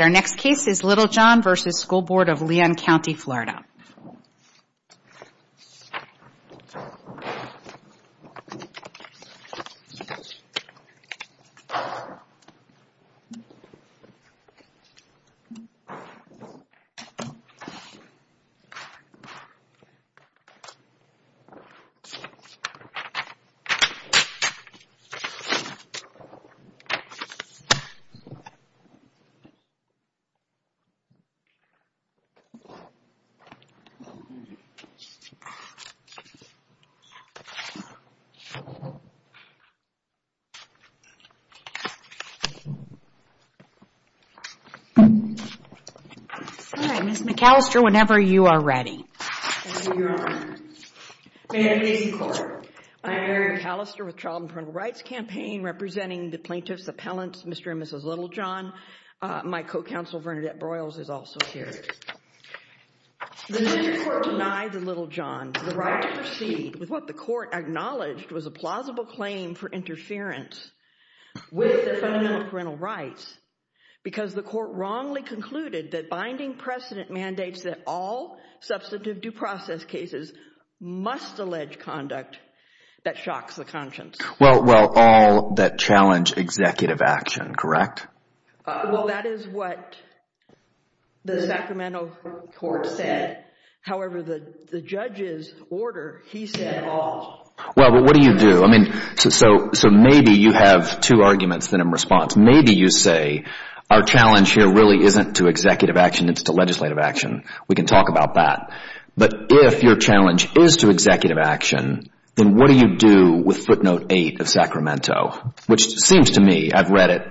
Our next case is Littlejohn v. School Board of Leon County Florida. Our next case is Littlejohn v. School Board of Leon County Florida. All right, Ms. McAllister, whenever you are ready. Thank you, Your Honor. May it please the Court. I am Mary McAllister with Child and Parental Rights Campaign, representing the plaintiffs' appellants Mr. and Mrs. Littlejohn. My co-counsel, Bernadette Broyles, is also here. The decision court denied to Littlejohn the right to proceed with what the court acknowledged was a plausible claim for interference with the fundamental parental rights because the court wrongly concluded that binding precedent mandates that all substantive due process cases must allege conduct that shocks the conscience. Well, all that challenge executive action, correct? Well, that is what the Sacramento court said. However, the judge's order, he said all. Well, what do you do? So maybe you have two arguments in response. Maybe you say our challenge here really isn't to executive action, it's to legislative action. We can talk about that. But if your challenge is to executive action, then what do you do with footnote eight of Sacramento? Which seems to me, I've read it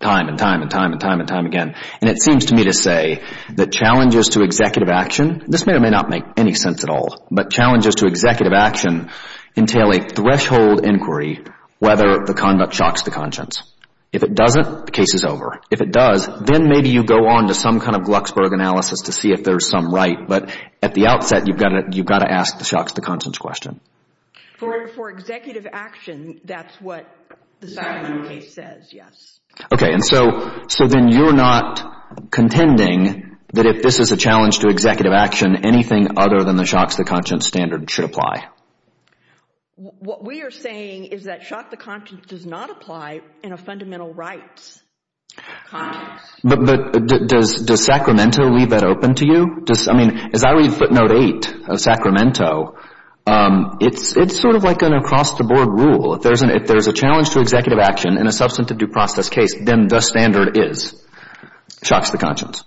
time and time and time and time again, and it seems to me to say that challenges to executive action, this may or may not make any sense at all, but challenges to executive action entail a threshold inquiry whether the conduct shocks the conscience. If it doesn't, the case is over. If it does, then maybe you go on to some kind of Glucksberg analysis to see if there's some right. But at the outset, you've got to ask the shocks the conscience question. For executive action, that's what the Sacramento case says, yes. Okay, and so then you're not contending that if this is a challenge to executive action, anything other than the shocks the conscience standard should apply? What we are saying is that shocks the conscience does not apply in a fundamental rights context. But does Sacramento leave that open to you? I mean, as I read footnote eight of Sacramento, it's sort of like an across-the-board rule. If there's a challenge to executive action in a substantive due process case, then the standard is shocks the conscience.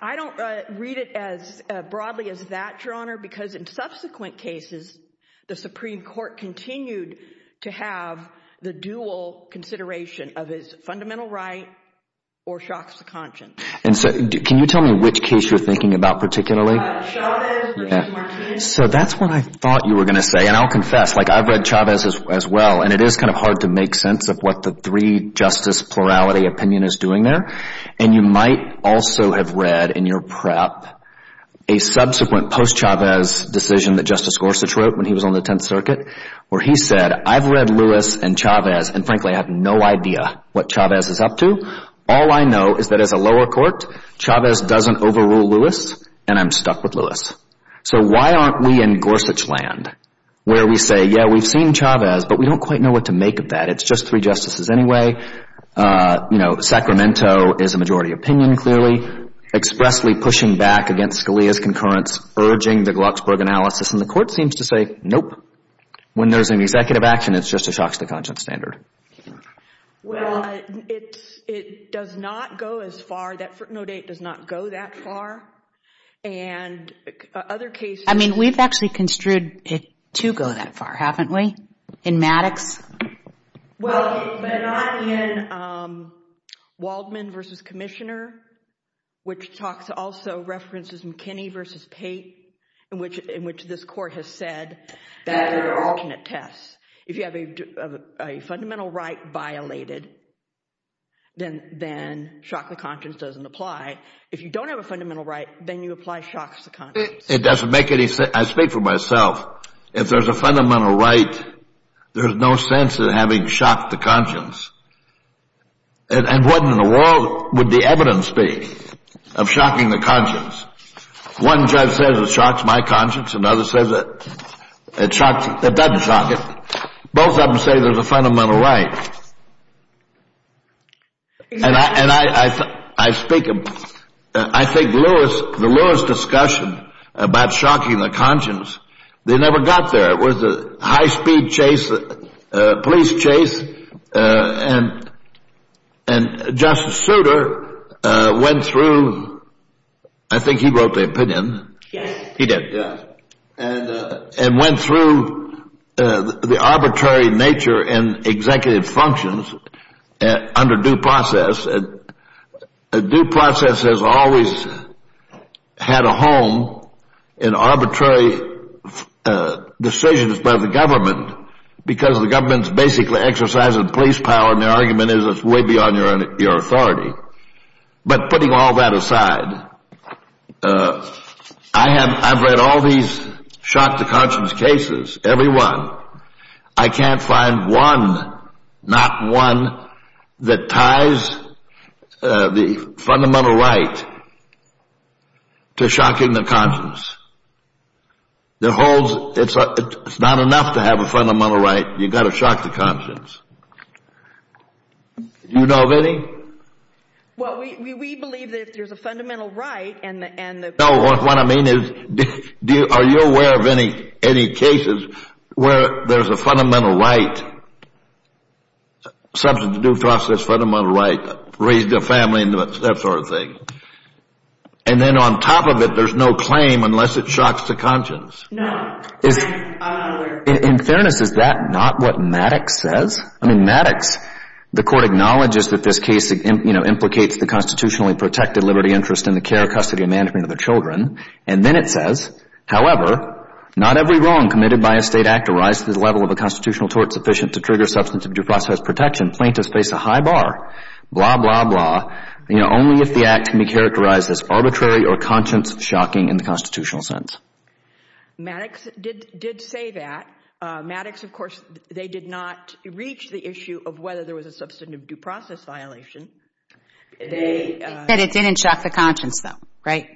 I don't read it as broadly as that, Your Honor, because in subsequent cases, the Supreme Court continued to have the dual consideration of his fundamental right or shocks the conscience. And so can you tell me which case you're thinking about particularly? Chavez versus Martinez. Okay, so that's what I thought you were going to say. And I'll confess, like I've read Chavez as well. And it is kind of hard to make sense of what the three justice plurality opinion is doing there. And you might also have read in your prep a subsequent post-Chavez decision that Justice Gorsuch wrote when he was on the Tenth Circuit where he said, I've read Lewis and Chavez, and frankly, I have no idea what Chavez is up to. All I know is that as a lower court, Chavez doesn't overrule Lewis, and I'm stuck with Lewis. So why aren't we in Gorsuch land where we say, yeah, we've seen Chavez, but we don't quite know what to make of that. It's just three justices anyway. You know, Sacramento is a majority opinion, clearly, expressly pushing back against Scalia's concurrence, urging the Glucksberg analysis, and the Court seems to say, nope, when there's an executive action, it's just a shocks the conscience standard. Well, it does not go as far. That footnote 8 does not go that far. And other cases. I mean, we've actually construed it to go that far, haven't we, in Maddox? Well, but not in Waldman v. Commissioner, which also references McKinney v. Pate, in which this Court has said that they're alternate tests. If you have a fundamental right violated, then shock the conscience doesn't apply. If you don't have a fundamental right, then you apply shocks to conscience. It doesn't make any sense. I speak for myself. If there's a fundamental right, there's no sense in having shocked the conscience. And what in the world would the evidence be of shocking the conscience? One judge says it shocks my conscience, another says it doesn't shock it. Both of them say there's a fundamental right. And I think the Lewis discussion about shocking the conscience, they never got there. It was a high-speed police chase, and Justice Souter went through, I think he wrote the opinion. Yes. He did. Yes. And went through the arbitrary nature in executive functions under due process. Due process has always had a home in arbitrary decisions by the government, because the government's basically exercising police power, and the argument is it's way beyond your authority. But putting all that aside, I've read all these shock the conscience cases, every one. I can't find one, not one, that ties the fundamental right to shocking the conscience. It's not enough to have a fundamental right. You've got to shock the conscience. Do you know of any? Well, we believe that if there's a fundamental right and the- No, what I mean is, are you aware of any cases where there's a fundamental right, substance of due process fundamental right, raising a family and that sort of thing, and then on top of it there's no claim unless it shocks the conscience? No. In fairness, is that not what Maddox says? I mean, Maddox, the court acknowledges that this case, you know, And then it says, Maddox did say that. Maddox, of course, they did not reach the issue of whether there was a substantive due process violation. They said it didn't shock the conscience, though, right?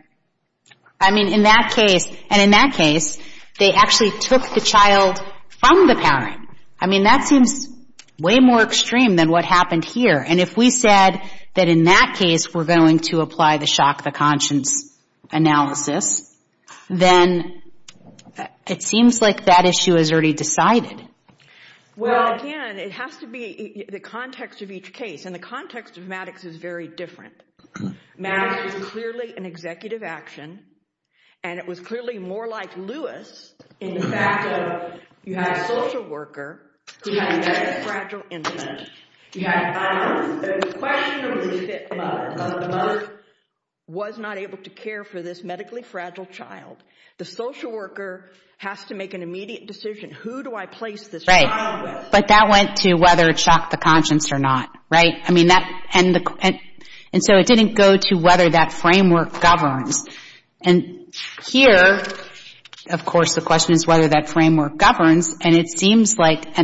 I mean, in that case, and in that case, they actually took the child from the parent. I mean, that seems way more extreme than what happened here, and if we said that in that case we're going to apply the shock the conscience analysis, then it seems like that issue is already decided. Well, again, it has to be the context of each case, and the context of Maddox is very different. Maddox was clearly an executive action, and it was clearly more like Lewis in the fact that you had a social worker who had a medically fragile infant. You had a mother who was not able to care for this medically fragile child. The social worker has to make an immediate decision. Who do I place this child with? Right, but that went to whether it shocked the conscience or not, right? I mean, and so it didn't go to whether that framework governs. And here, of course, the question is whether that framework governs, and it seems like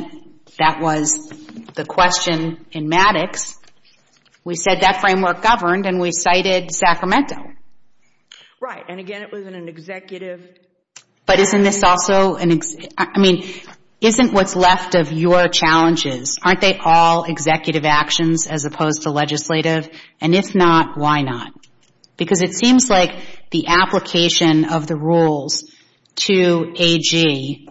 that was the question in Maddox. We said that framework governed, and we cited Sacramento. Right, and again, it was in an executive. But isn't this also an executive? I mean, isn't what's left of your challenges, aren't they all executive actions as opposed to legislative? And if not, why not? Because it seems like the application of the rules to AG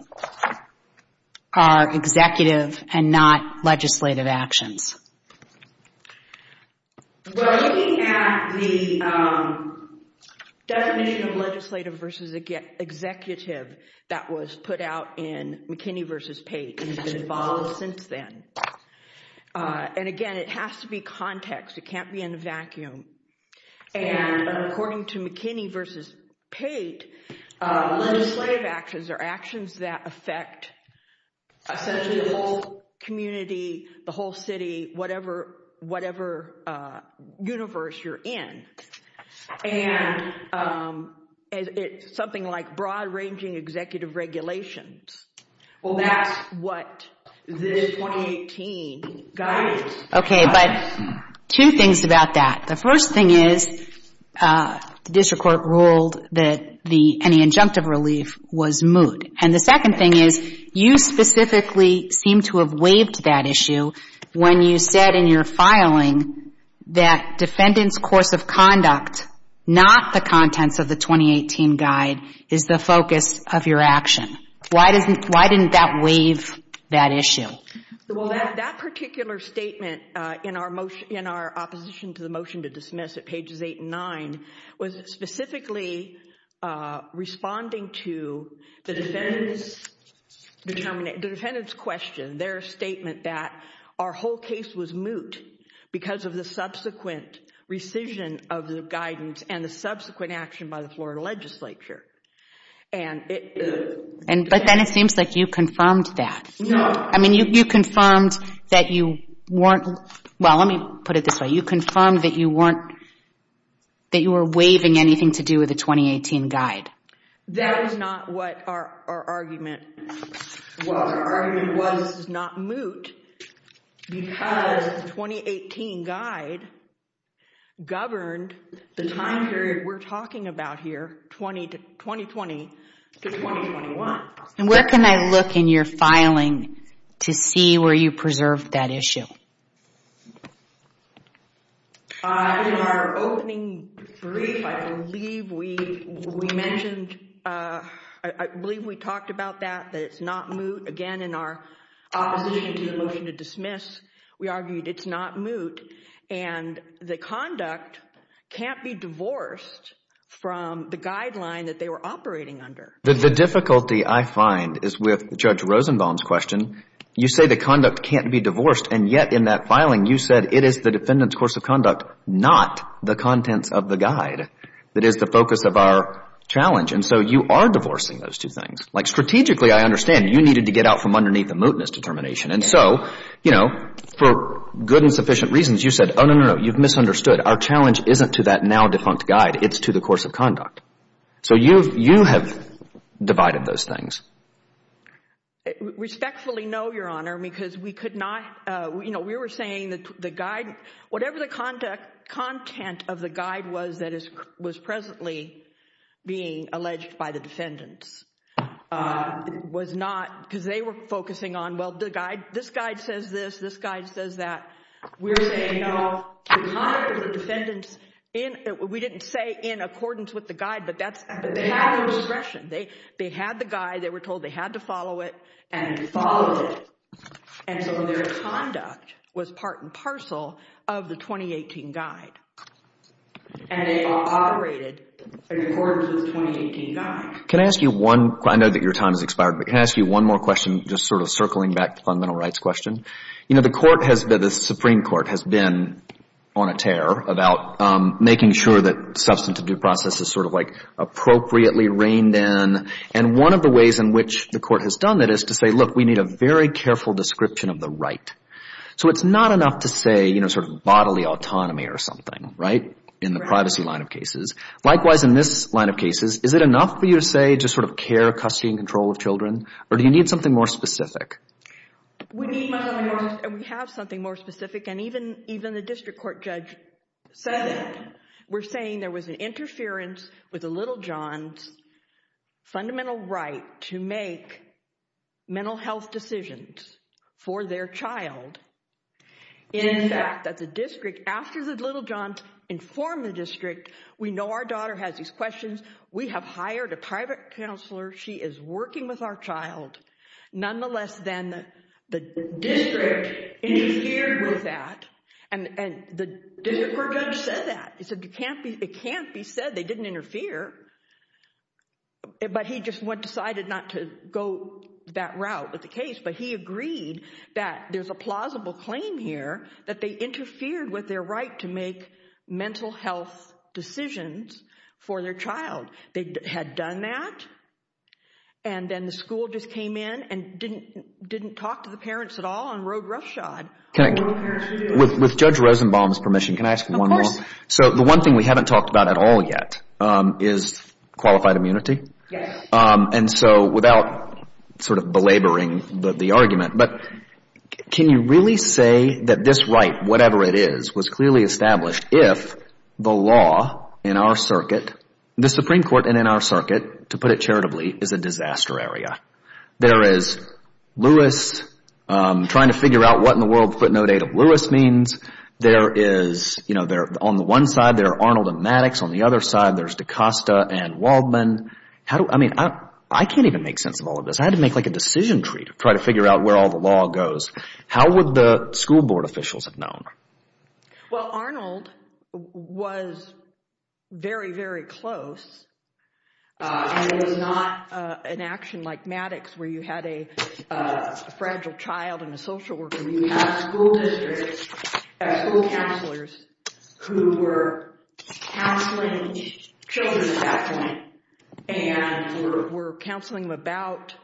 are executive and not legislative actions. Well, looking at the definition of legislative versus executive that was put out in McKinney v. Pate and has been followed since then, and again, it has to be context. It can't be in a vacuum. And according to McKinney v. Pate, legislative actions are actions that affect essentially the whole community, the whole city, whatever universe you're in. And it's something like broad-ranging executive regulations. Well, that's what this 2018 guidance. Okay, but two things about that. The first thing is the district court ruled that any injunctive relief was moot. And the second thing is you specifically seem to have waived that issue when you said in your filing that defendant's course of conduct, not the contents of the 2018 guide, is the focus of your action. Why didn't that waive that issue? Well, that particular statement in our opposition to the motion to dismiss at pages 8 and 9 was specifically responding to the defendant's question, their statement that our whole case was moot because of the subsequent rescission of the guidance and the subsequent action by the Florida legislature. But then it seems like you confirmed that. No. I mean, you confirmed that you weren't, well, let me put it this way. You confirmed that you weren't, that you were waiving anything to do with the 2018 guide. That is not what our argument was. Our argument was it's not moot because the 2018 guide governed the time period we're talking about here, 2020 to 2021. And where can I look in your filing to see where you preserved that issue? In our opening brief, I believe we mentioned, I believe we talked about that, that it's not moot. Again, in our opposition to the motion to dismiss, we argued it's not moot and the conduct can't be divorced from the guideline that they were operating under. The difficulty I find is with Judge Rosenbaum's question. You say the conduct can't be divorced. And yet in that filing, you said it is the defendant's course of conduct, not the contents of the guide, that is the focus of our challenge. And so you are divorcing those two things. Like strategically, I understand you needed to get out from underneath the mootness determination. And so, you know, for good and sufficient reasons, you said, oh, no, no, no. You've misunderstood. Our challenge isn't to that now defunct guide. It's to the course of conduct. So you have divided those things. Respectfully, no, Your Honor, because we could not, you know, we were saying the guide, whatever the content of the guide was that was presently being alleged by the defendants was not, because they were focusing on, well, the guide, this guide says this, this guide says that. We're saying, no, the conduct of the defendants, we didn't say in accordance with the guide, but they had the discretion. They had the guide. They were told they had to follow it. And they followed it. And so their conduct was part and parcel of the 2018 guide. And they operated in accordance with the 2018 guide. Can I ask you one, I know that your time has expired, but can I ask you one more question just sort of circling back to the fundamental rights question? You know, the Supreme Court has been on a tear about making sure that substantive due process is sort of like appropriately reined in. And one of the ways in which the Court has done that is to say, look, we need a very careful description of the right. So it's not enough to say, you know, sort of bodily autonomy or something, right, in the privacy line of cases. Likewise, in this line of cases, is it enough for you to say just sort of care, custody, and control of children, or do you need something more specific? We need much more, and we have something more specific. And even the district court judge said it. We're saying there was an interference with the Little Johns' fundamental right to make mental health decisions for their child. In fact, that the district, after the Little Johns informed the district, we know our daughter has these questions. We have hired a private counselor. She is working with our child. Nonetheless, then, the district interfered with that, and the district court judge said that. He said it can't be said they didn't interfere, but he just decided not to go that route with the case. But he agreed that there's a plausible claim here that they interfered with their right to make mental health decisions for their child. They had done that, and then the school just came in and didn't talk to the parents at all and rode roughshod. With Judge Rosenbaum's permission, can I ask one more? Of course. So the one thing we haven't talked about at all yet is qualified immunity. Yes. And so without sort of belaboring the argument, but can you really say that this right, whatever it is, was clearly established if the law in our circuit, the Supreme Court and in our circuit, to put it charitably, is a disaster area? There is Lewis trying to figure out what in the world footnote 8 of Lewis means. There is, you know, on the one side, there are Arnold and Maddox. On the other side, there's DaCosta and Waldman. I mean, I can't even make sense of all of this. I had to make like a decision tree to try to figure out where all the law goes. How would the school board officials have known? Well, Arnold was very, very close, and it was not an action like Maddox where you had a fragile child and a social worker. You had school districts and school counselors who were counseling children and were counseling them about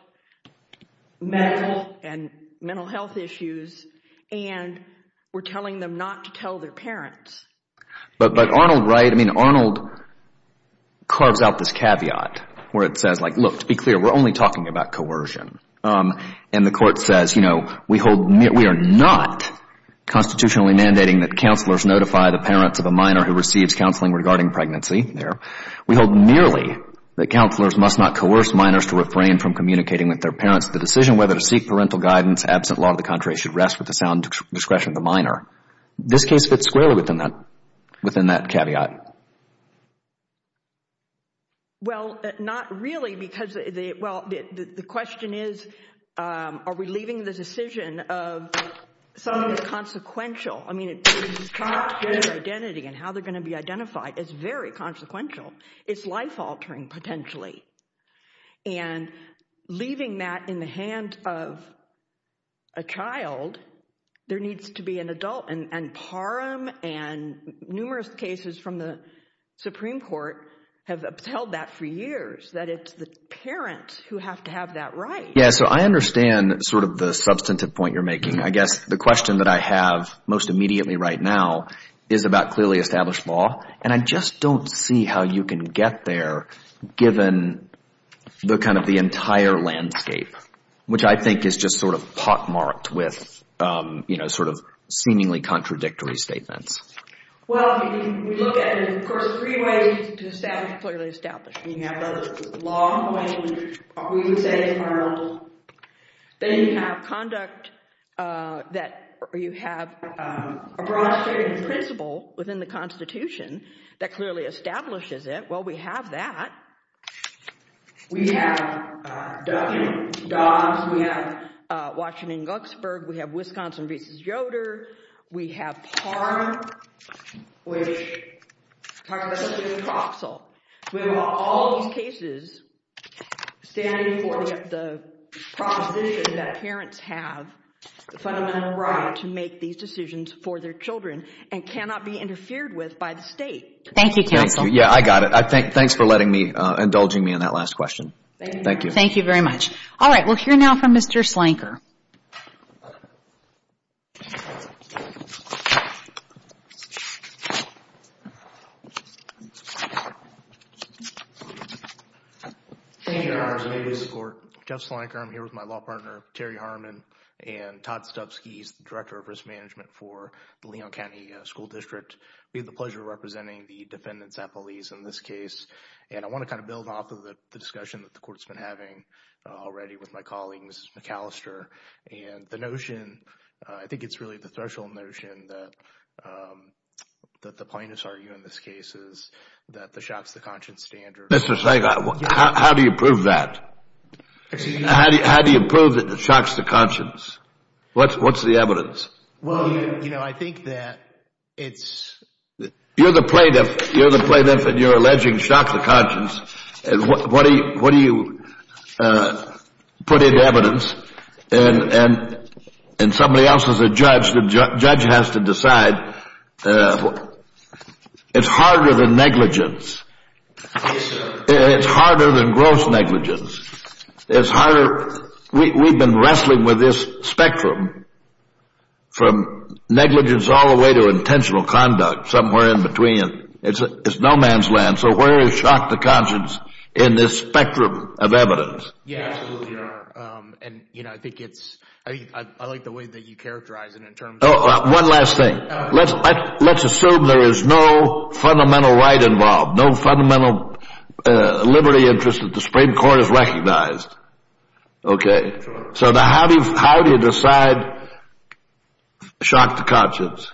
mental and mental health issues and were telling them not to tell their parents. But Arnold, right, I mean, Arnold carves out this caveat where it says like, look, to be clear, we're only talking about coercion. And the court says, you know, we are not constitutionally mandating that counselors notify the parents of a minor who receives counseling regarding pregnancy. We hold nearly that counselors must not coerce minors to refrain from communicating with their parents. The decision whether to seek parental guidance absent law of the contrary should rest with the sound discretion of the minor. This case fits squarely within that caveat. Well, not really because the question is are we leaving the decision of something that's consequential. I mean, it's not their identity and how they're going to be identified. It's very consequential. It's life-altering potentially. And leaving that in the hand of a child, there needs to be an adult. And PARM and numerous cases from the Supreme Court have upheld that for years, that it's the parents who have to have that right. Yeah, so I understand sort of the substantive point you're making. I guess the question that I have most immediately right now is about clearly established law. And I just don't see how you can get there given the kind of the entire landscape, which I think is just sort of pockmarked with, you know, sort of seemingly contradictory statements. Well, we look at it in, of course, three ways to establish clearly established. Then you have conduct that you have a broad statement of principle within the Constitution that clearly establishes it. Well, we have that. We have W. Dodds. We have Washington and Glucksberg. We have Wisconsin v. Yoder. We have PARM, which talks about substantive proxile. We have all these cases standing for the proposition that parents have the fundamental right to make these decisions for their children and cannot be interfered with by the state. Thank you, counsel. Yeah, I got it. Thanks for letting me, indulging me in that last question. Thank you. Thank you very much. All right, we'll hear now from Mr. Slanker. Thank you, Your Honor. May we support. Jeff Slanker. I'm here with my law partner, Terry Harmon, and Todd Stubbski. He's the Director of Risk Management for the Leon County School District. We have the pleasure of representing the defendants at police in this case. And I want to kind of build off of the discussion that the court's been having already with my colleagues, Ms. McAllister, and the notion, I think it's really the threshold notion that the plaintiffs argue in this case that the shocks to conscience standard. Mr. Slanker, how do you prove that? How do you prove that it shocks the conscience? What's the evidence? Well, you know, I think that it's... You're the plaintiff, and you're alleging shocks of conscience. What do you put into evidence? And somebody else is a judge. The judge has to decide. It's harder than negligence. It's harder than gross negligence. It's harder... We've been wrestling with this spectrum from negligence all the way to intentional conduct, somewhere in between. It's no man's land. So where is shock to conscience in this spectrum of evidence? Yeah, absolutely. And, you know, I think it's... I like the way that you characterize it in terms of... Let's assume there is no fundamental right involved, no fundamental liberty interest that the Supreme Court has recognized. Okay. So how do you decide shock to conscience?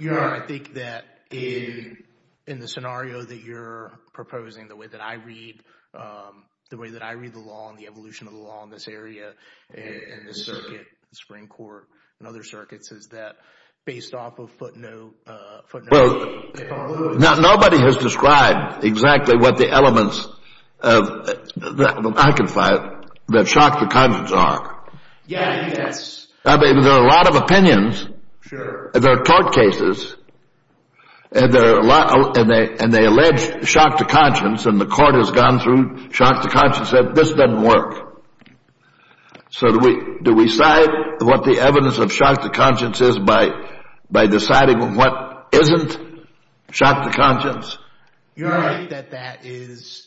I think that in the scenario that you're proposing, the way that I read the law and the evolution of the law in this area, in this circuit, the Supreme Court, and other circuits, based off of footnote eight. Well, nobody has described exactly what the elements of, I can find, that shock to conscience are. Yeah, yes. I mean, there are a lot of opinions. Sure. There are court cases, and they allege shock to conscience, and the court has gone through shock to conscience and said, this doesn't work. So do we cite what the evidence of shock to conscience is by deciding what isn't shock to conscience? You're right that that is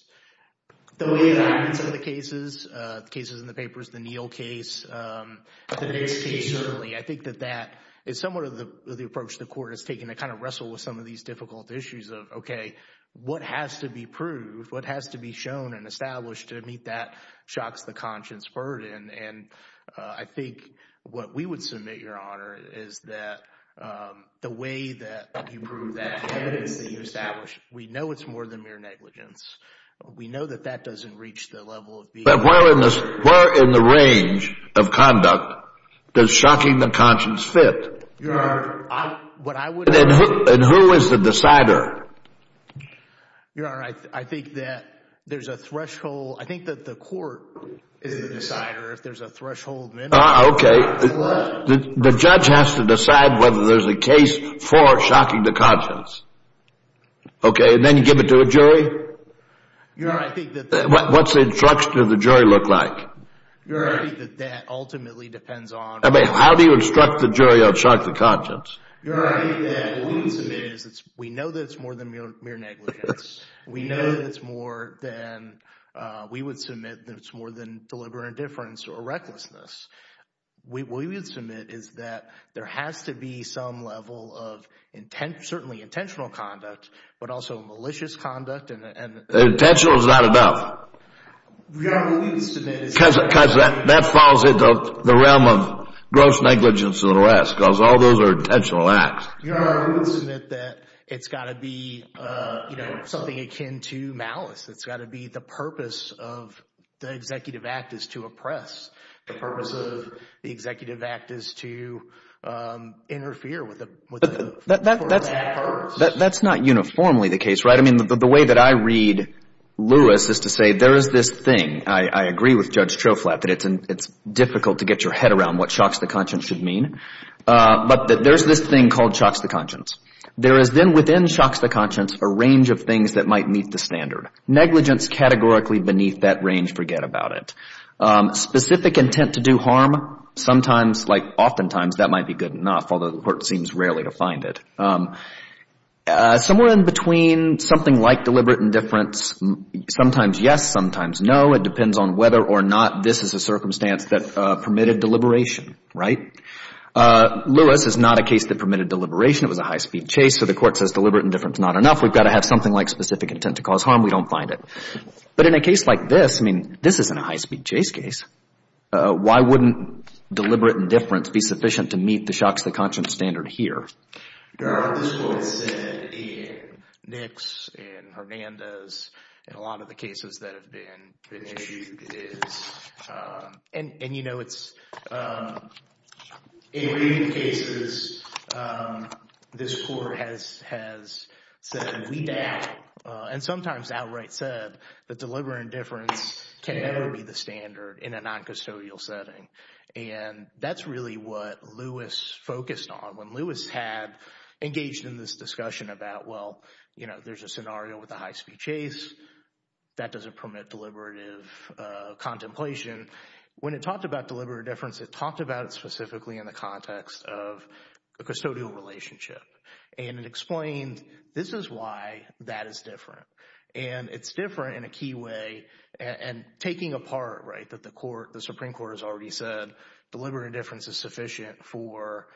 the way that I read some of the cases, the cases in the papers, the Neal case, the Dix case. Certainly. I think that that is somewhat of the approach the court is taking to kind of wrestle with some of these difficult issues of, okay, what has to be proved, what has to be shown and established to meet that shock to conscience burden. And I think what we would submit, Your Honor, is that the way that you prove that evidence that you establish, we know it's more than mere negligence. We know that that doesn't reach the level of being a judge. But where in the range of conduct does shocking to conscience fit? Your Honor, what I would argue— And who is the decider? Your Honor, I think that there's a threshold. I think that the court is the decider if there's a threshold minimum. Okay. The judge has to decide whether there's a case for shocking to conscience. Okay, and then give it to a jury? Your Honor, I think that— What's the instruction of the jury look like? Your Honor, I think that that ultimately depends on— How do you instruct the jury on shock to conscience? Your Honor, I think that what we would submit is we know that it's more than mere negligence. We know that it's more than—we would submit that it's more than deliberate indifference or recklessness. What we would submit is that there has to be some level of intent, certainly intentional conduct, but also malicious conduct and— Intentional is not enough. Your Honor, what we would submit is— Because that falls into the realm of gross negligence and arrest because all those are intentional acts. Your Honor, we would submit that it's got to be something akin to malice. It's got to be the purpose of the executive act is to oppress. The purpose of the executive act is to interfere with the purpose. That's not uniformly the case, right? I mean, the way that I read Lewis is to say there is this thing. I agree with Judge Troflat that it's difficult to get your head around what shocks to conscience should mean. But there's this thing called shocks to conscience. There is then within shocks to conscience a range of things that might meet the standard. Negligence categorically beneath that range, forget about it. Specific intent to do harm, sometimes, like oftentimes, that might be good enough, although the court seems rarely to find it. Somewhere in between something like deliberate indifference, sometimes yes, sometimes no, it depends on whether or not this is a circumstance that permitted deliberation, right? Lewis is not a case that permitted deliberation. It was a high-speed chase. So the court says deliberate indifference is not enough. We've got to have something like specific intent to cause harm. We don't find it. But in a case like this, I mean, this isn't a high-speed chase case. Why wouldn't deliberate indifference be sufficient to meet the shocks to conscience standard here? What this court said in Nix, in Hernandez, in a lot of the cases that have been issued is, and you know it's, in many cases, this court has said we doubt, and sometimes outright said that deliberate indifference can never be the standard in a noncustodial setting. And that's really what Lewis focused on. When Lewis had engaged in this discussion about, well, you know, there's a scenario with a high-speed chase. That doesn't permit deliberative contemplation. When it talked about deliberate indifference, it talked about it specifically in the context of a custodial relationship. And it explained this is why that is different. And it's different in a key way and taking apart, right, that the Supreme Court has already said deliberate indifference is sufficient for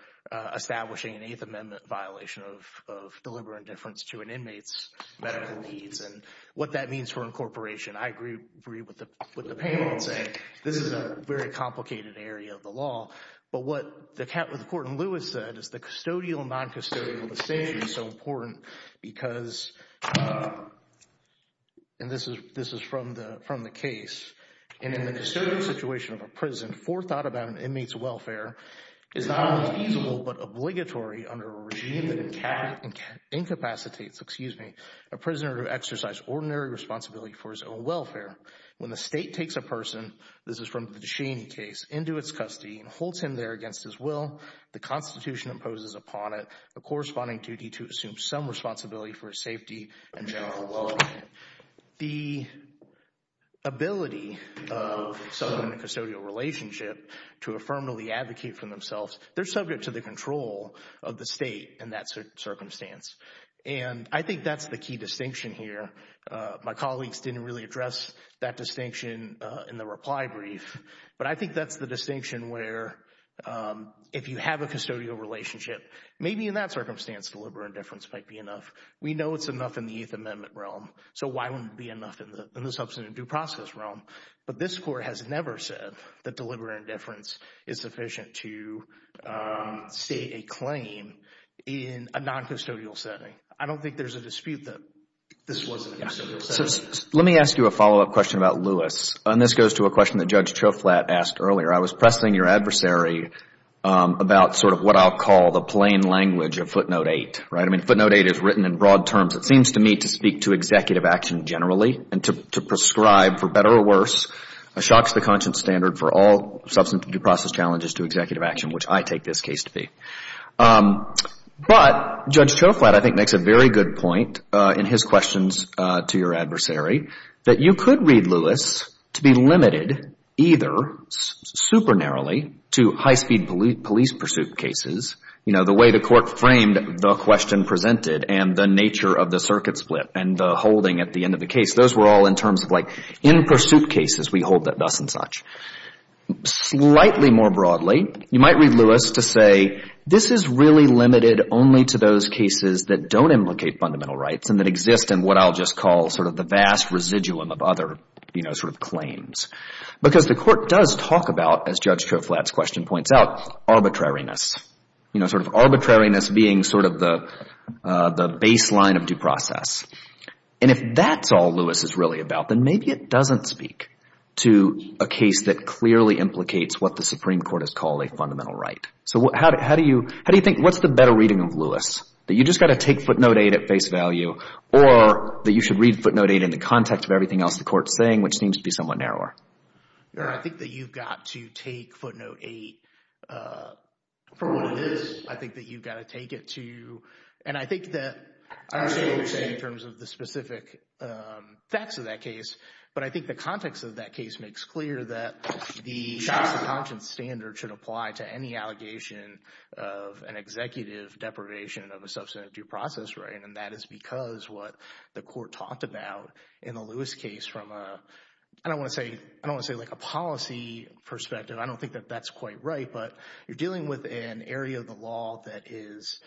establishing an Eighth Amendment violation of deliberate indifference to an inmate's medical needs and what that means for incorporation. I agree with the panel in saying this is a very complicated area of the law. But what the court in Lewis said is the custodial and noncustodial distinction is so important because, and this is from the case, in a custodial situation of a prison, forethought about an inmate's welfare is not only feasible but obligatory under a regime that incapacitates a prisoner to exercise ordinary responsibility for his own welfare. When the state takes a person, this is from the Deshaney case, into its custody and holds him there against his will, the Constitution imposes upon it a corresponding duty to assume some responsibility for his safety and general well-being. The ability of someone in a custodial relationship to affirmatively advocate for themselves, they're subject to the control of the state in that circumstance. And I think that's the key distinction here. My colleagues didn't really address that distinction in the reply brief. But I think that's the distinction where if you have a custodial relationship, maybe in that circumstance deliberate indifference might be enough. We know it's enough in the Eighth Amendment realm. So why wouldn't it be enough in the substantive due process realm? But this Court has never said that deliberate indifference is sufficient to state a claim in a noncustodial setting. I don't think there's a dispute that this was a custodial setting. Let me ask you a follow-up question about Lewis. And this goes to a question that Judge Choflat asked earlier. I was pressing your adversary about sort of what I'll call the plain language of Footnote 8. I mean, Footnote 8 is written in broad terms. It seems to me to speak to executive action generally and to prescribe, for better or worse, a shock to the conscience standard for all substantive due process challenges to executive action, which I take this case to be. But Judge Choflat, I think, makes a very good point in his questions to your adversary, that you could read Lewis to be limited either super narrowly to high-speed police pursuit cases, you know, the way the Court framed the question presented and the nature of the circuit split and the holding at the end of the case. Those were all in terms of like in pursuit cases we hold that thus and such. Slightly more broadly, you might read Lewis to say, this is really limited only to those cases that don't implicate fundamental rights and that exist in what I'll just call sort of the vast residuum of other, you know, sort of claims. Because the Court does talk about, as Judge Choflat's question points out, arbitrariness. You know, sort of arbitrariness being sort of the baseline of due process. And if that's all Lewis is really about, then maybe it doesn't speak to a case that clearly implicates what the Supreme Court has called a fundamental right. So how do you – how do you think – what's the better reading of Lewis? That you just got to take footnote 8 at face value or that you should read footnote 8 in the context of everything else the Court's saying, which seems to be somewhat narrower? I think that you've got to take footnote 8 for what it is. I think that you've got to take it to – and I think that – I understand what you're saying in terms of the specific facts of that case. But I think the context of that case makes clear that the shots to conscience standard should apply to any allegation of an executive deprivation of a substantive due process right, and that is because what the Court talked about in the Lewis case from a – I don't want to say – I don't want to say like a policy perspective. I don't think that that's quite right, but you're dealing with an area of the law that is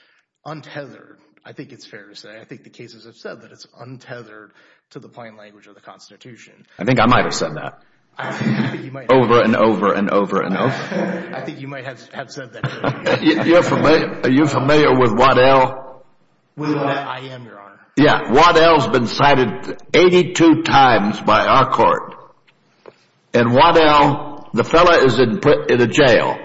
untethered. I think it's fair to say. I think the cases have said that it's untethered to the plain language of the Constitution. I think I might have said that over and over and over and over. I think you might have said that. Are you familiar with Waddell? I am, Your Honor. Yeah, Waddell's been cited 82 times by our Court. And Waddell, the fellow is in a jail.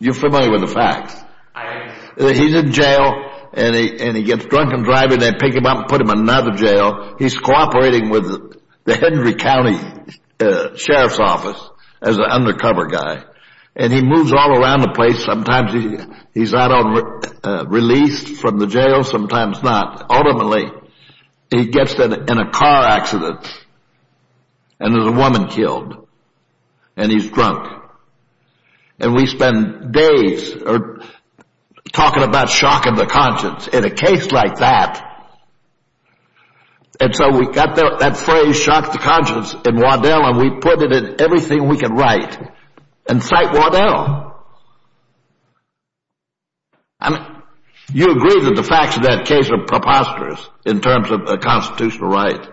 You're familiar with the facts. I am. He's in jail, and he gets drunk and driving, and they pick him up and put him in another jail. He's cooperating with the Henry County Sheriff's Office as an undercover guy, and he moves all around the place. Sometimes he's out on release from the jail, sometimes not. Ultimately, he gets in a car accident, and there's a woman killed, and he's drunk. And we spend days talking about shocking the conscience in a case like that. And so we got that phrase, shock the conscience, in Waddell, and we put it in everything we could write and cite Waddell. I mean, you agree that the facts of that case are preposterous in terms of a constitutional right?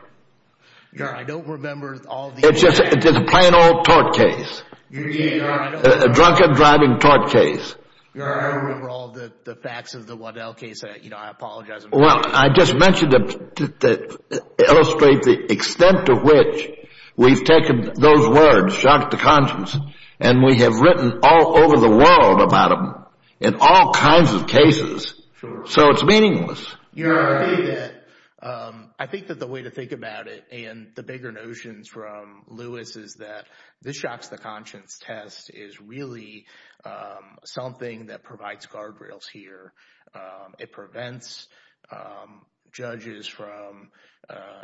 Your Honor, I don't remember all the facts. It's just a plain old tort case. Your Honor, I don't remember all the facts of the Waddell case. I apologize. Well, I just mentioned it to illustrate the extent to which we've taken those words, shock the conscience, and we have written all over the world about them in all kinds of cases. So it's meaningless. Your Honor, I agree with that. I think that the way to think about it and the bigger notions from Lewis is that this shocks the conscience test is really something that provides guardrails here. It prevents judges from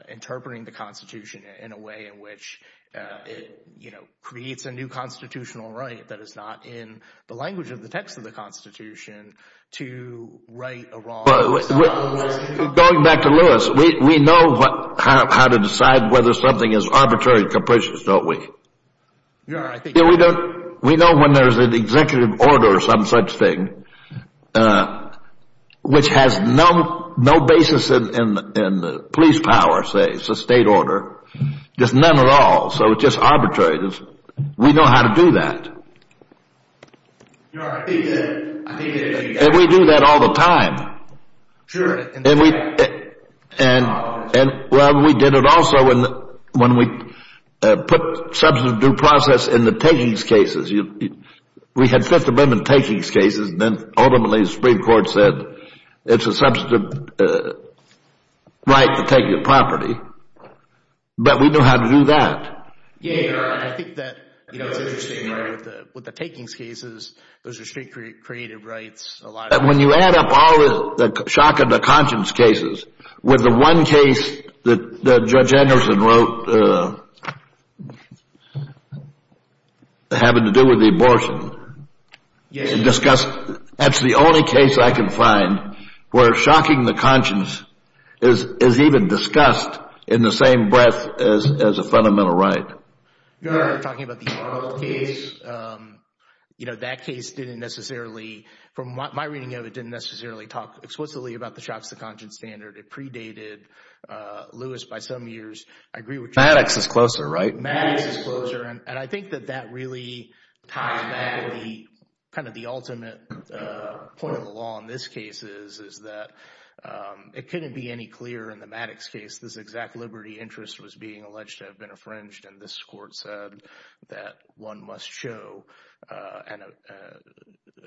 interpreting the Constitution in a way in which it, you know, creates a new constitutional right that is not in the language of the text of the Constitution to write a wrong. Going back to Lewis, we know how to decide whether something is arbitrary and capricious, don't we? Your Honor, I think— We know when there's an executive order or some such thing which has no basis in the police power, say, it's a state order, just none at all, so it's just arbitrary. We know how to do that. Your Honor, I think that— And we do that all the time. Sure. Well, we did it also when we put substantive due process in the takings cases. We had Fifth Amendment takings cases, and then ultimately the Supreme Court said it's a substantive right to take your property. But we know how to do that. Yeah, Your Honor. I think that, you know, it's interesting with the takings cases, those are street creative rights. When you add up all the shock of the conscience cases with the one case that Judge Anderson wrote having to do with the abortion. Yes. That's the only case I can find where shocking the conscience is even discussed in the same breath as a fundamental right. Your Honor, you're talking about the Arnold case. You know, that case didn't necessarily, from my reading of it, didn't necessarily talk explicitly about the shock of the conscience standard. It predated Lewis by some years. I agree with Judge Anderson. Maddox is closer, right? Maddox is closer, and I think that that really ties back to kind of the ultimate point of the law in this case is that it couldn't be any clearer in the Maddox case. This exact liberty interest was being alleged to have been infringed. And this court said that one must show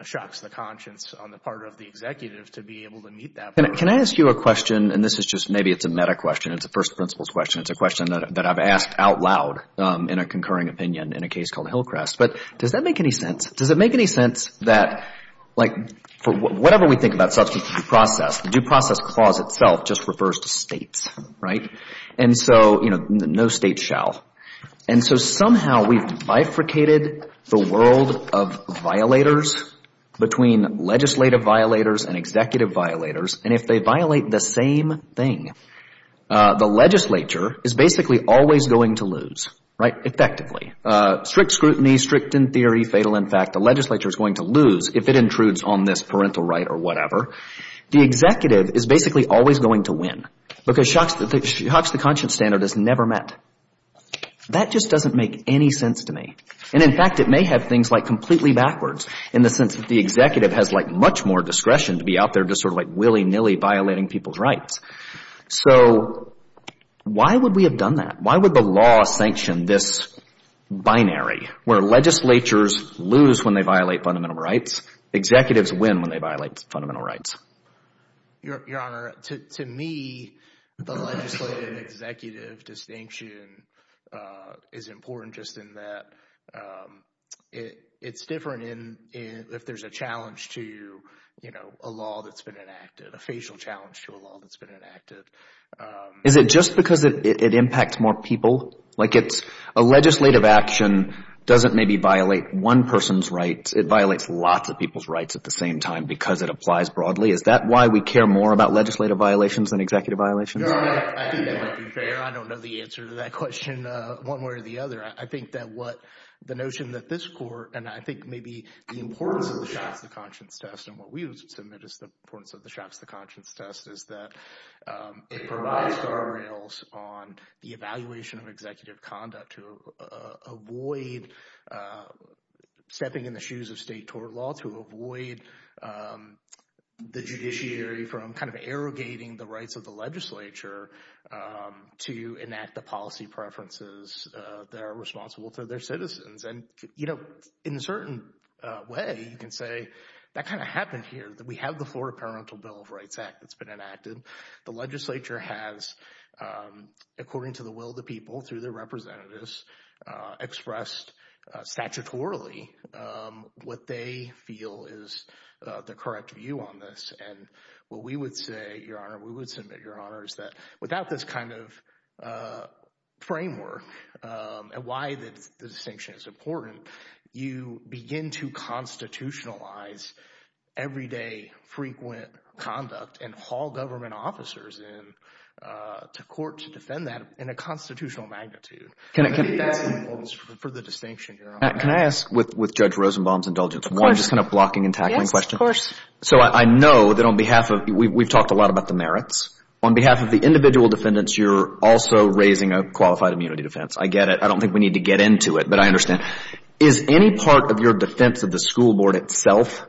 shocks of the conscience on the part of the executive to be able to meet that. Can I ask you a question? And this is just maybe it's a meta question. It's a first principles question. It's a question that I've asked out loud in a concurring opinion in a case called Hillcrest. But does that make any sense? Does it make any sense that, like, for whatever we think about substance of due process, the due process clause itself just refers to states, right? And so, you know, no state shall. And so somehow we've bifurcated the world of violators between legislative violators and executive violators. And if they violate the same thing, the legislature is basically always going to lose, right, effectively. Strict scrutiny, strict in theory, fatal in fact. The legislature is going to lose if it intrudes on this parental right or whatever. The executive is basically always going to win because shocks of the conscience standard is never met. That just doesn't make any sense to me. And in fact, it may have things like completely backwards in the sense that the executive has, like, much more discretion to be out there just sort of like willy-nilly violating people's rights. So why would we have done that? Why would the law sanction this binary where legislatures lose when they violate fundamental rights, executives win when they violate fundamental rights? Your Honor, to me, the legislative executive distinction is important just in that it's different if there's a challenge to, you know, a law that's been enacted, a facial challenge to a law that's been enacted. Is it just because it impacts more people? Like it's a legislative action doesn't maybe violate one person's rights. It violates lots of people's rights at the same time because it applies broadly. Is that why we care more about legislative violations than executive violations? Your Honor, I think that might be fair. I don't know the answer to that question one way or the other. I think that what the notion that this court and I think maybe the importance of the shots to conscience test and what we would submit is the importance of the shots to conscience test is that it provides guardrails on the evaluation of executive conduct to avoid stepping in the shoes of state tort law, to avoid the judiciary from kind of arrogating the rights of the legislature to enact the policy preferences that are responsible to their citizens. And, you know, in a certain way, you can say that kind of happened here. We have the Florida Parliamentary Bill of Rights Act that's been enacted. The legislature has, according to the will of the people through their representatives, expressed statutorily what they feel is the correct view on this. And what we would say, Your Honor, we would submit, Your Honor, is that without this kind of framework and why the distinction is important, you begin to constitutionalize everyday frequent conduct and haul government officers in to court to defend that in a constitutional magnitude. Can I ask, with Judge Rosenbaum's indulgence, one just kind of blocking and tackling question? Of course. So I know that on behalf of, we've talked a lot about the merits. On behalf of the individual defendants, you're also raising a qualified immunity defense. I get it. I don't think we need to get into it, but I understand. Is any part of your defense of the school board itself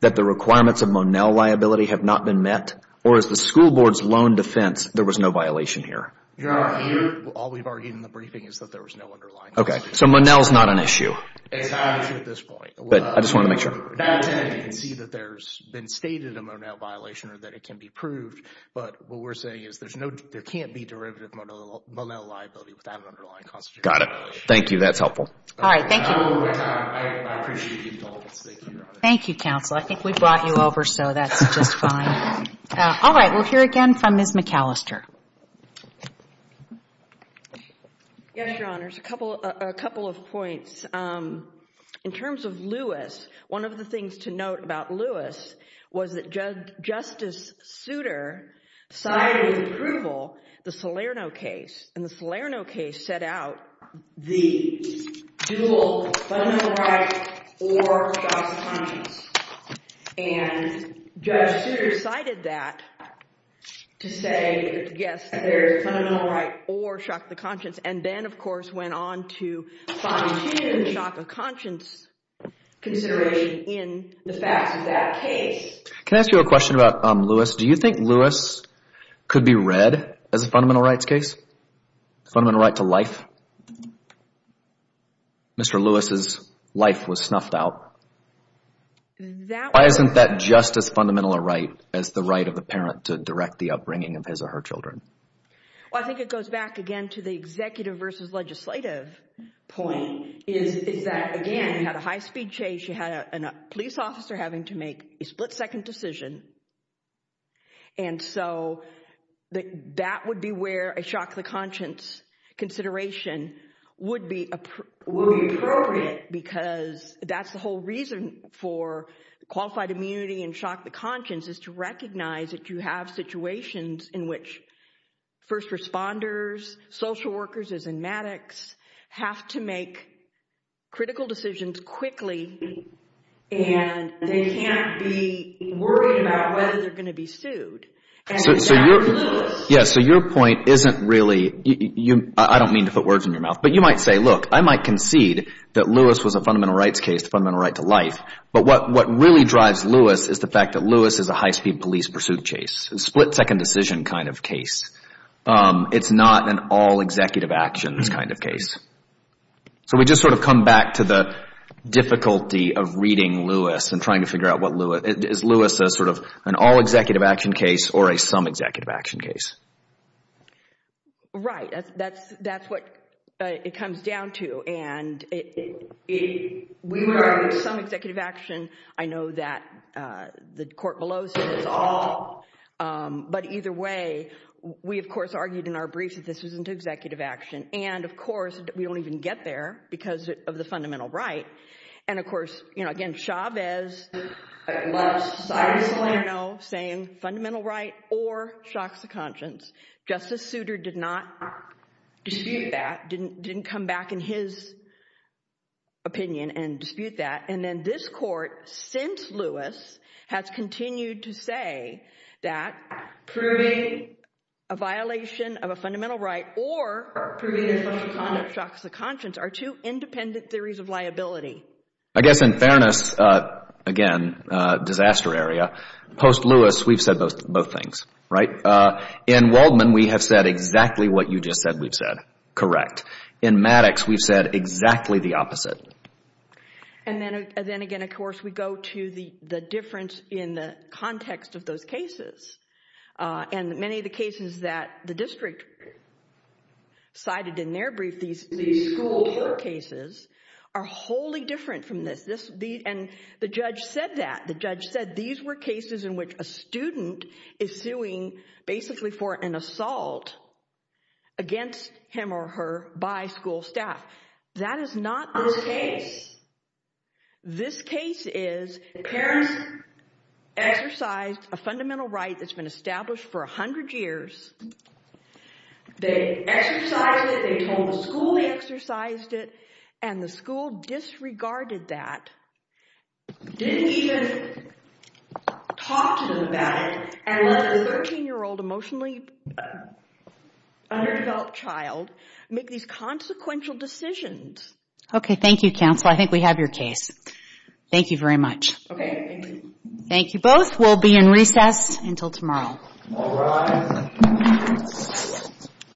that the requirements of Monell liability have not been met? Or is the school board's lone defense there was no violation here? Your Honor, all we've argued in the briefing is that there was no underlying violation. Okay. So Monell's not an issue. It's not an issue at this point. But I just wanted to make sure. That's it. You can see that there's been stated a Monell violation or that it can be proved. But what we're saying is there can't be derivative Monell liability without an underlying constitutional violation. Got it. Thank you. That's helpful. All right. Thank you. I appreciate your indulgence. Thank you, Your Honor. Thank you, counsel. I think we brought you over, so that's just fine. All right. We'll hear again from Ms. McAllister. Yes, Your Honor. A couple of points. In terms of Lewis, one of the things to note about Lewis was that Justice Souter cited in approval the Salerno case. And the Salerno case set out the dual fundamental right or shock to conscience. And Judge Souter cited that to say, yes, there is a fundamental right or shock to conscience. And then, of course, went on to fine-tune the shock of conscience consideration in the facts of that case. Can I ask you a question about Lewis? Do you think Lewis could be read as a fundamental rights case, fundamental right to life? Mr. Lewis's life was snuffed out. Why isn't that just as fundamental a right as the right of the parent to direct the upbringing of his or her children? Well, I think it goes back, again, to the executive versus legislative point, is that, again, you had a high-speed chase. You had a police officer having to make a split-second decision. And so that would be where a shock to conscience consideration would be appropriate because that's the whole reason for qualified immunity and shock to conscience, is to recognize that you have situations in which first responders, social workers, as in Maddox, have to make critical decisions quickly. And they can't be worried about whether they're going to be sued. So your point isn't really – I don't mean to put words in your mouth. But you might say, look, I might concede that Lewis was a fundamental rights case, fundamental right to life. But what really drives Lewis is the fact that Lewis is a high-speed police pursuit chase, a split-second decision kind of case. It's not an all-executive-actions kind of case. So we just sort of come back to the difficulty of reading Lewis and trying to figure out what Lewis – is Lewis a sort of an all-executive-action case or a some-executive-action case? Right. That's what it comes down to. And if we were arguing some executive action, I know that the court below says it's all. But either way, we, of course, argued in our briefs that this was an executive action. And, of course, we don't even get there because of the fundamental right. And, of course, again, Chavez left Cyrus Milano saying fundamental right or shock to conscience. Justice Souter did not dispute that, didn't come back in his opinion and dispute that. And then this court, since Lewis, has continued to say that proving a violation of a fundamental right or proving there's a shock to conscience are two independent theories of liability. I guess in fairness, again, disaster area, post-Lewis, we've said both things, right? In Waldman, we have said exactly what you just said we've said, correct. In Maddox, we've said exactly the opposite. And then again, of course, we go to the difference in the context of those cases. And many of the cases that the district cited in their brief, these school court cases, are wholly different from this. And the judge said that. The judge said these were cases in which a student is suing basically for an assault against him or her by school staff. That is not this case. This case is the parents exercised a fundamental right that's been established for 100 years. They exercised it. They told the school they exercised it. And the school disregarded that, didn't even talk to them about it, and let a 13-year-old emotionally underdeveloped child make these consequential decisions. Okay, thank you, counsel. I think we have your case. Thank you very much. Okay, thank you. Thank you both. We'll be in recess until tomorrow. All rise.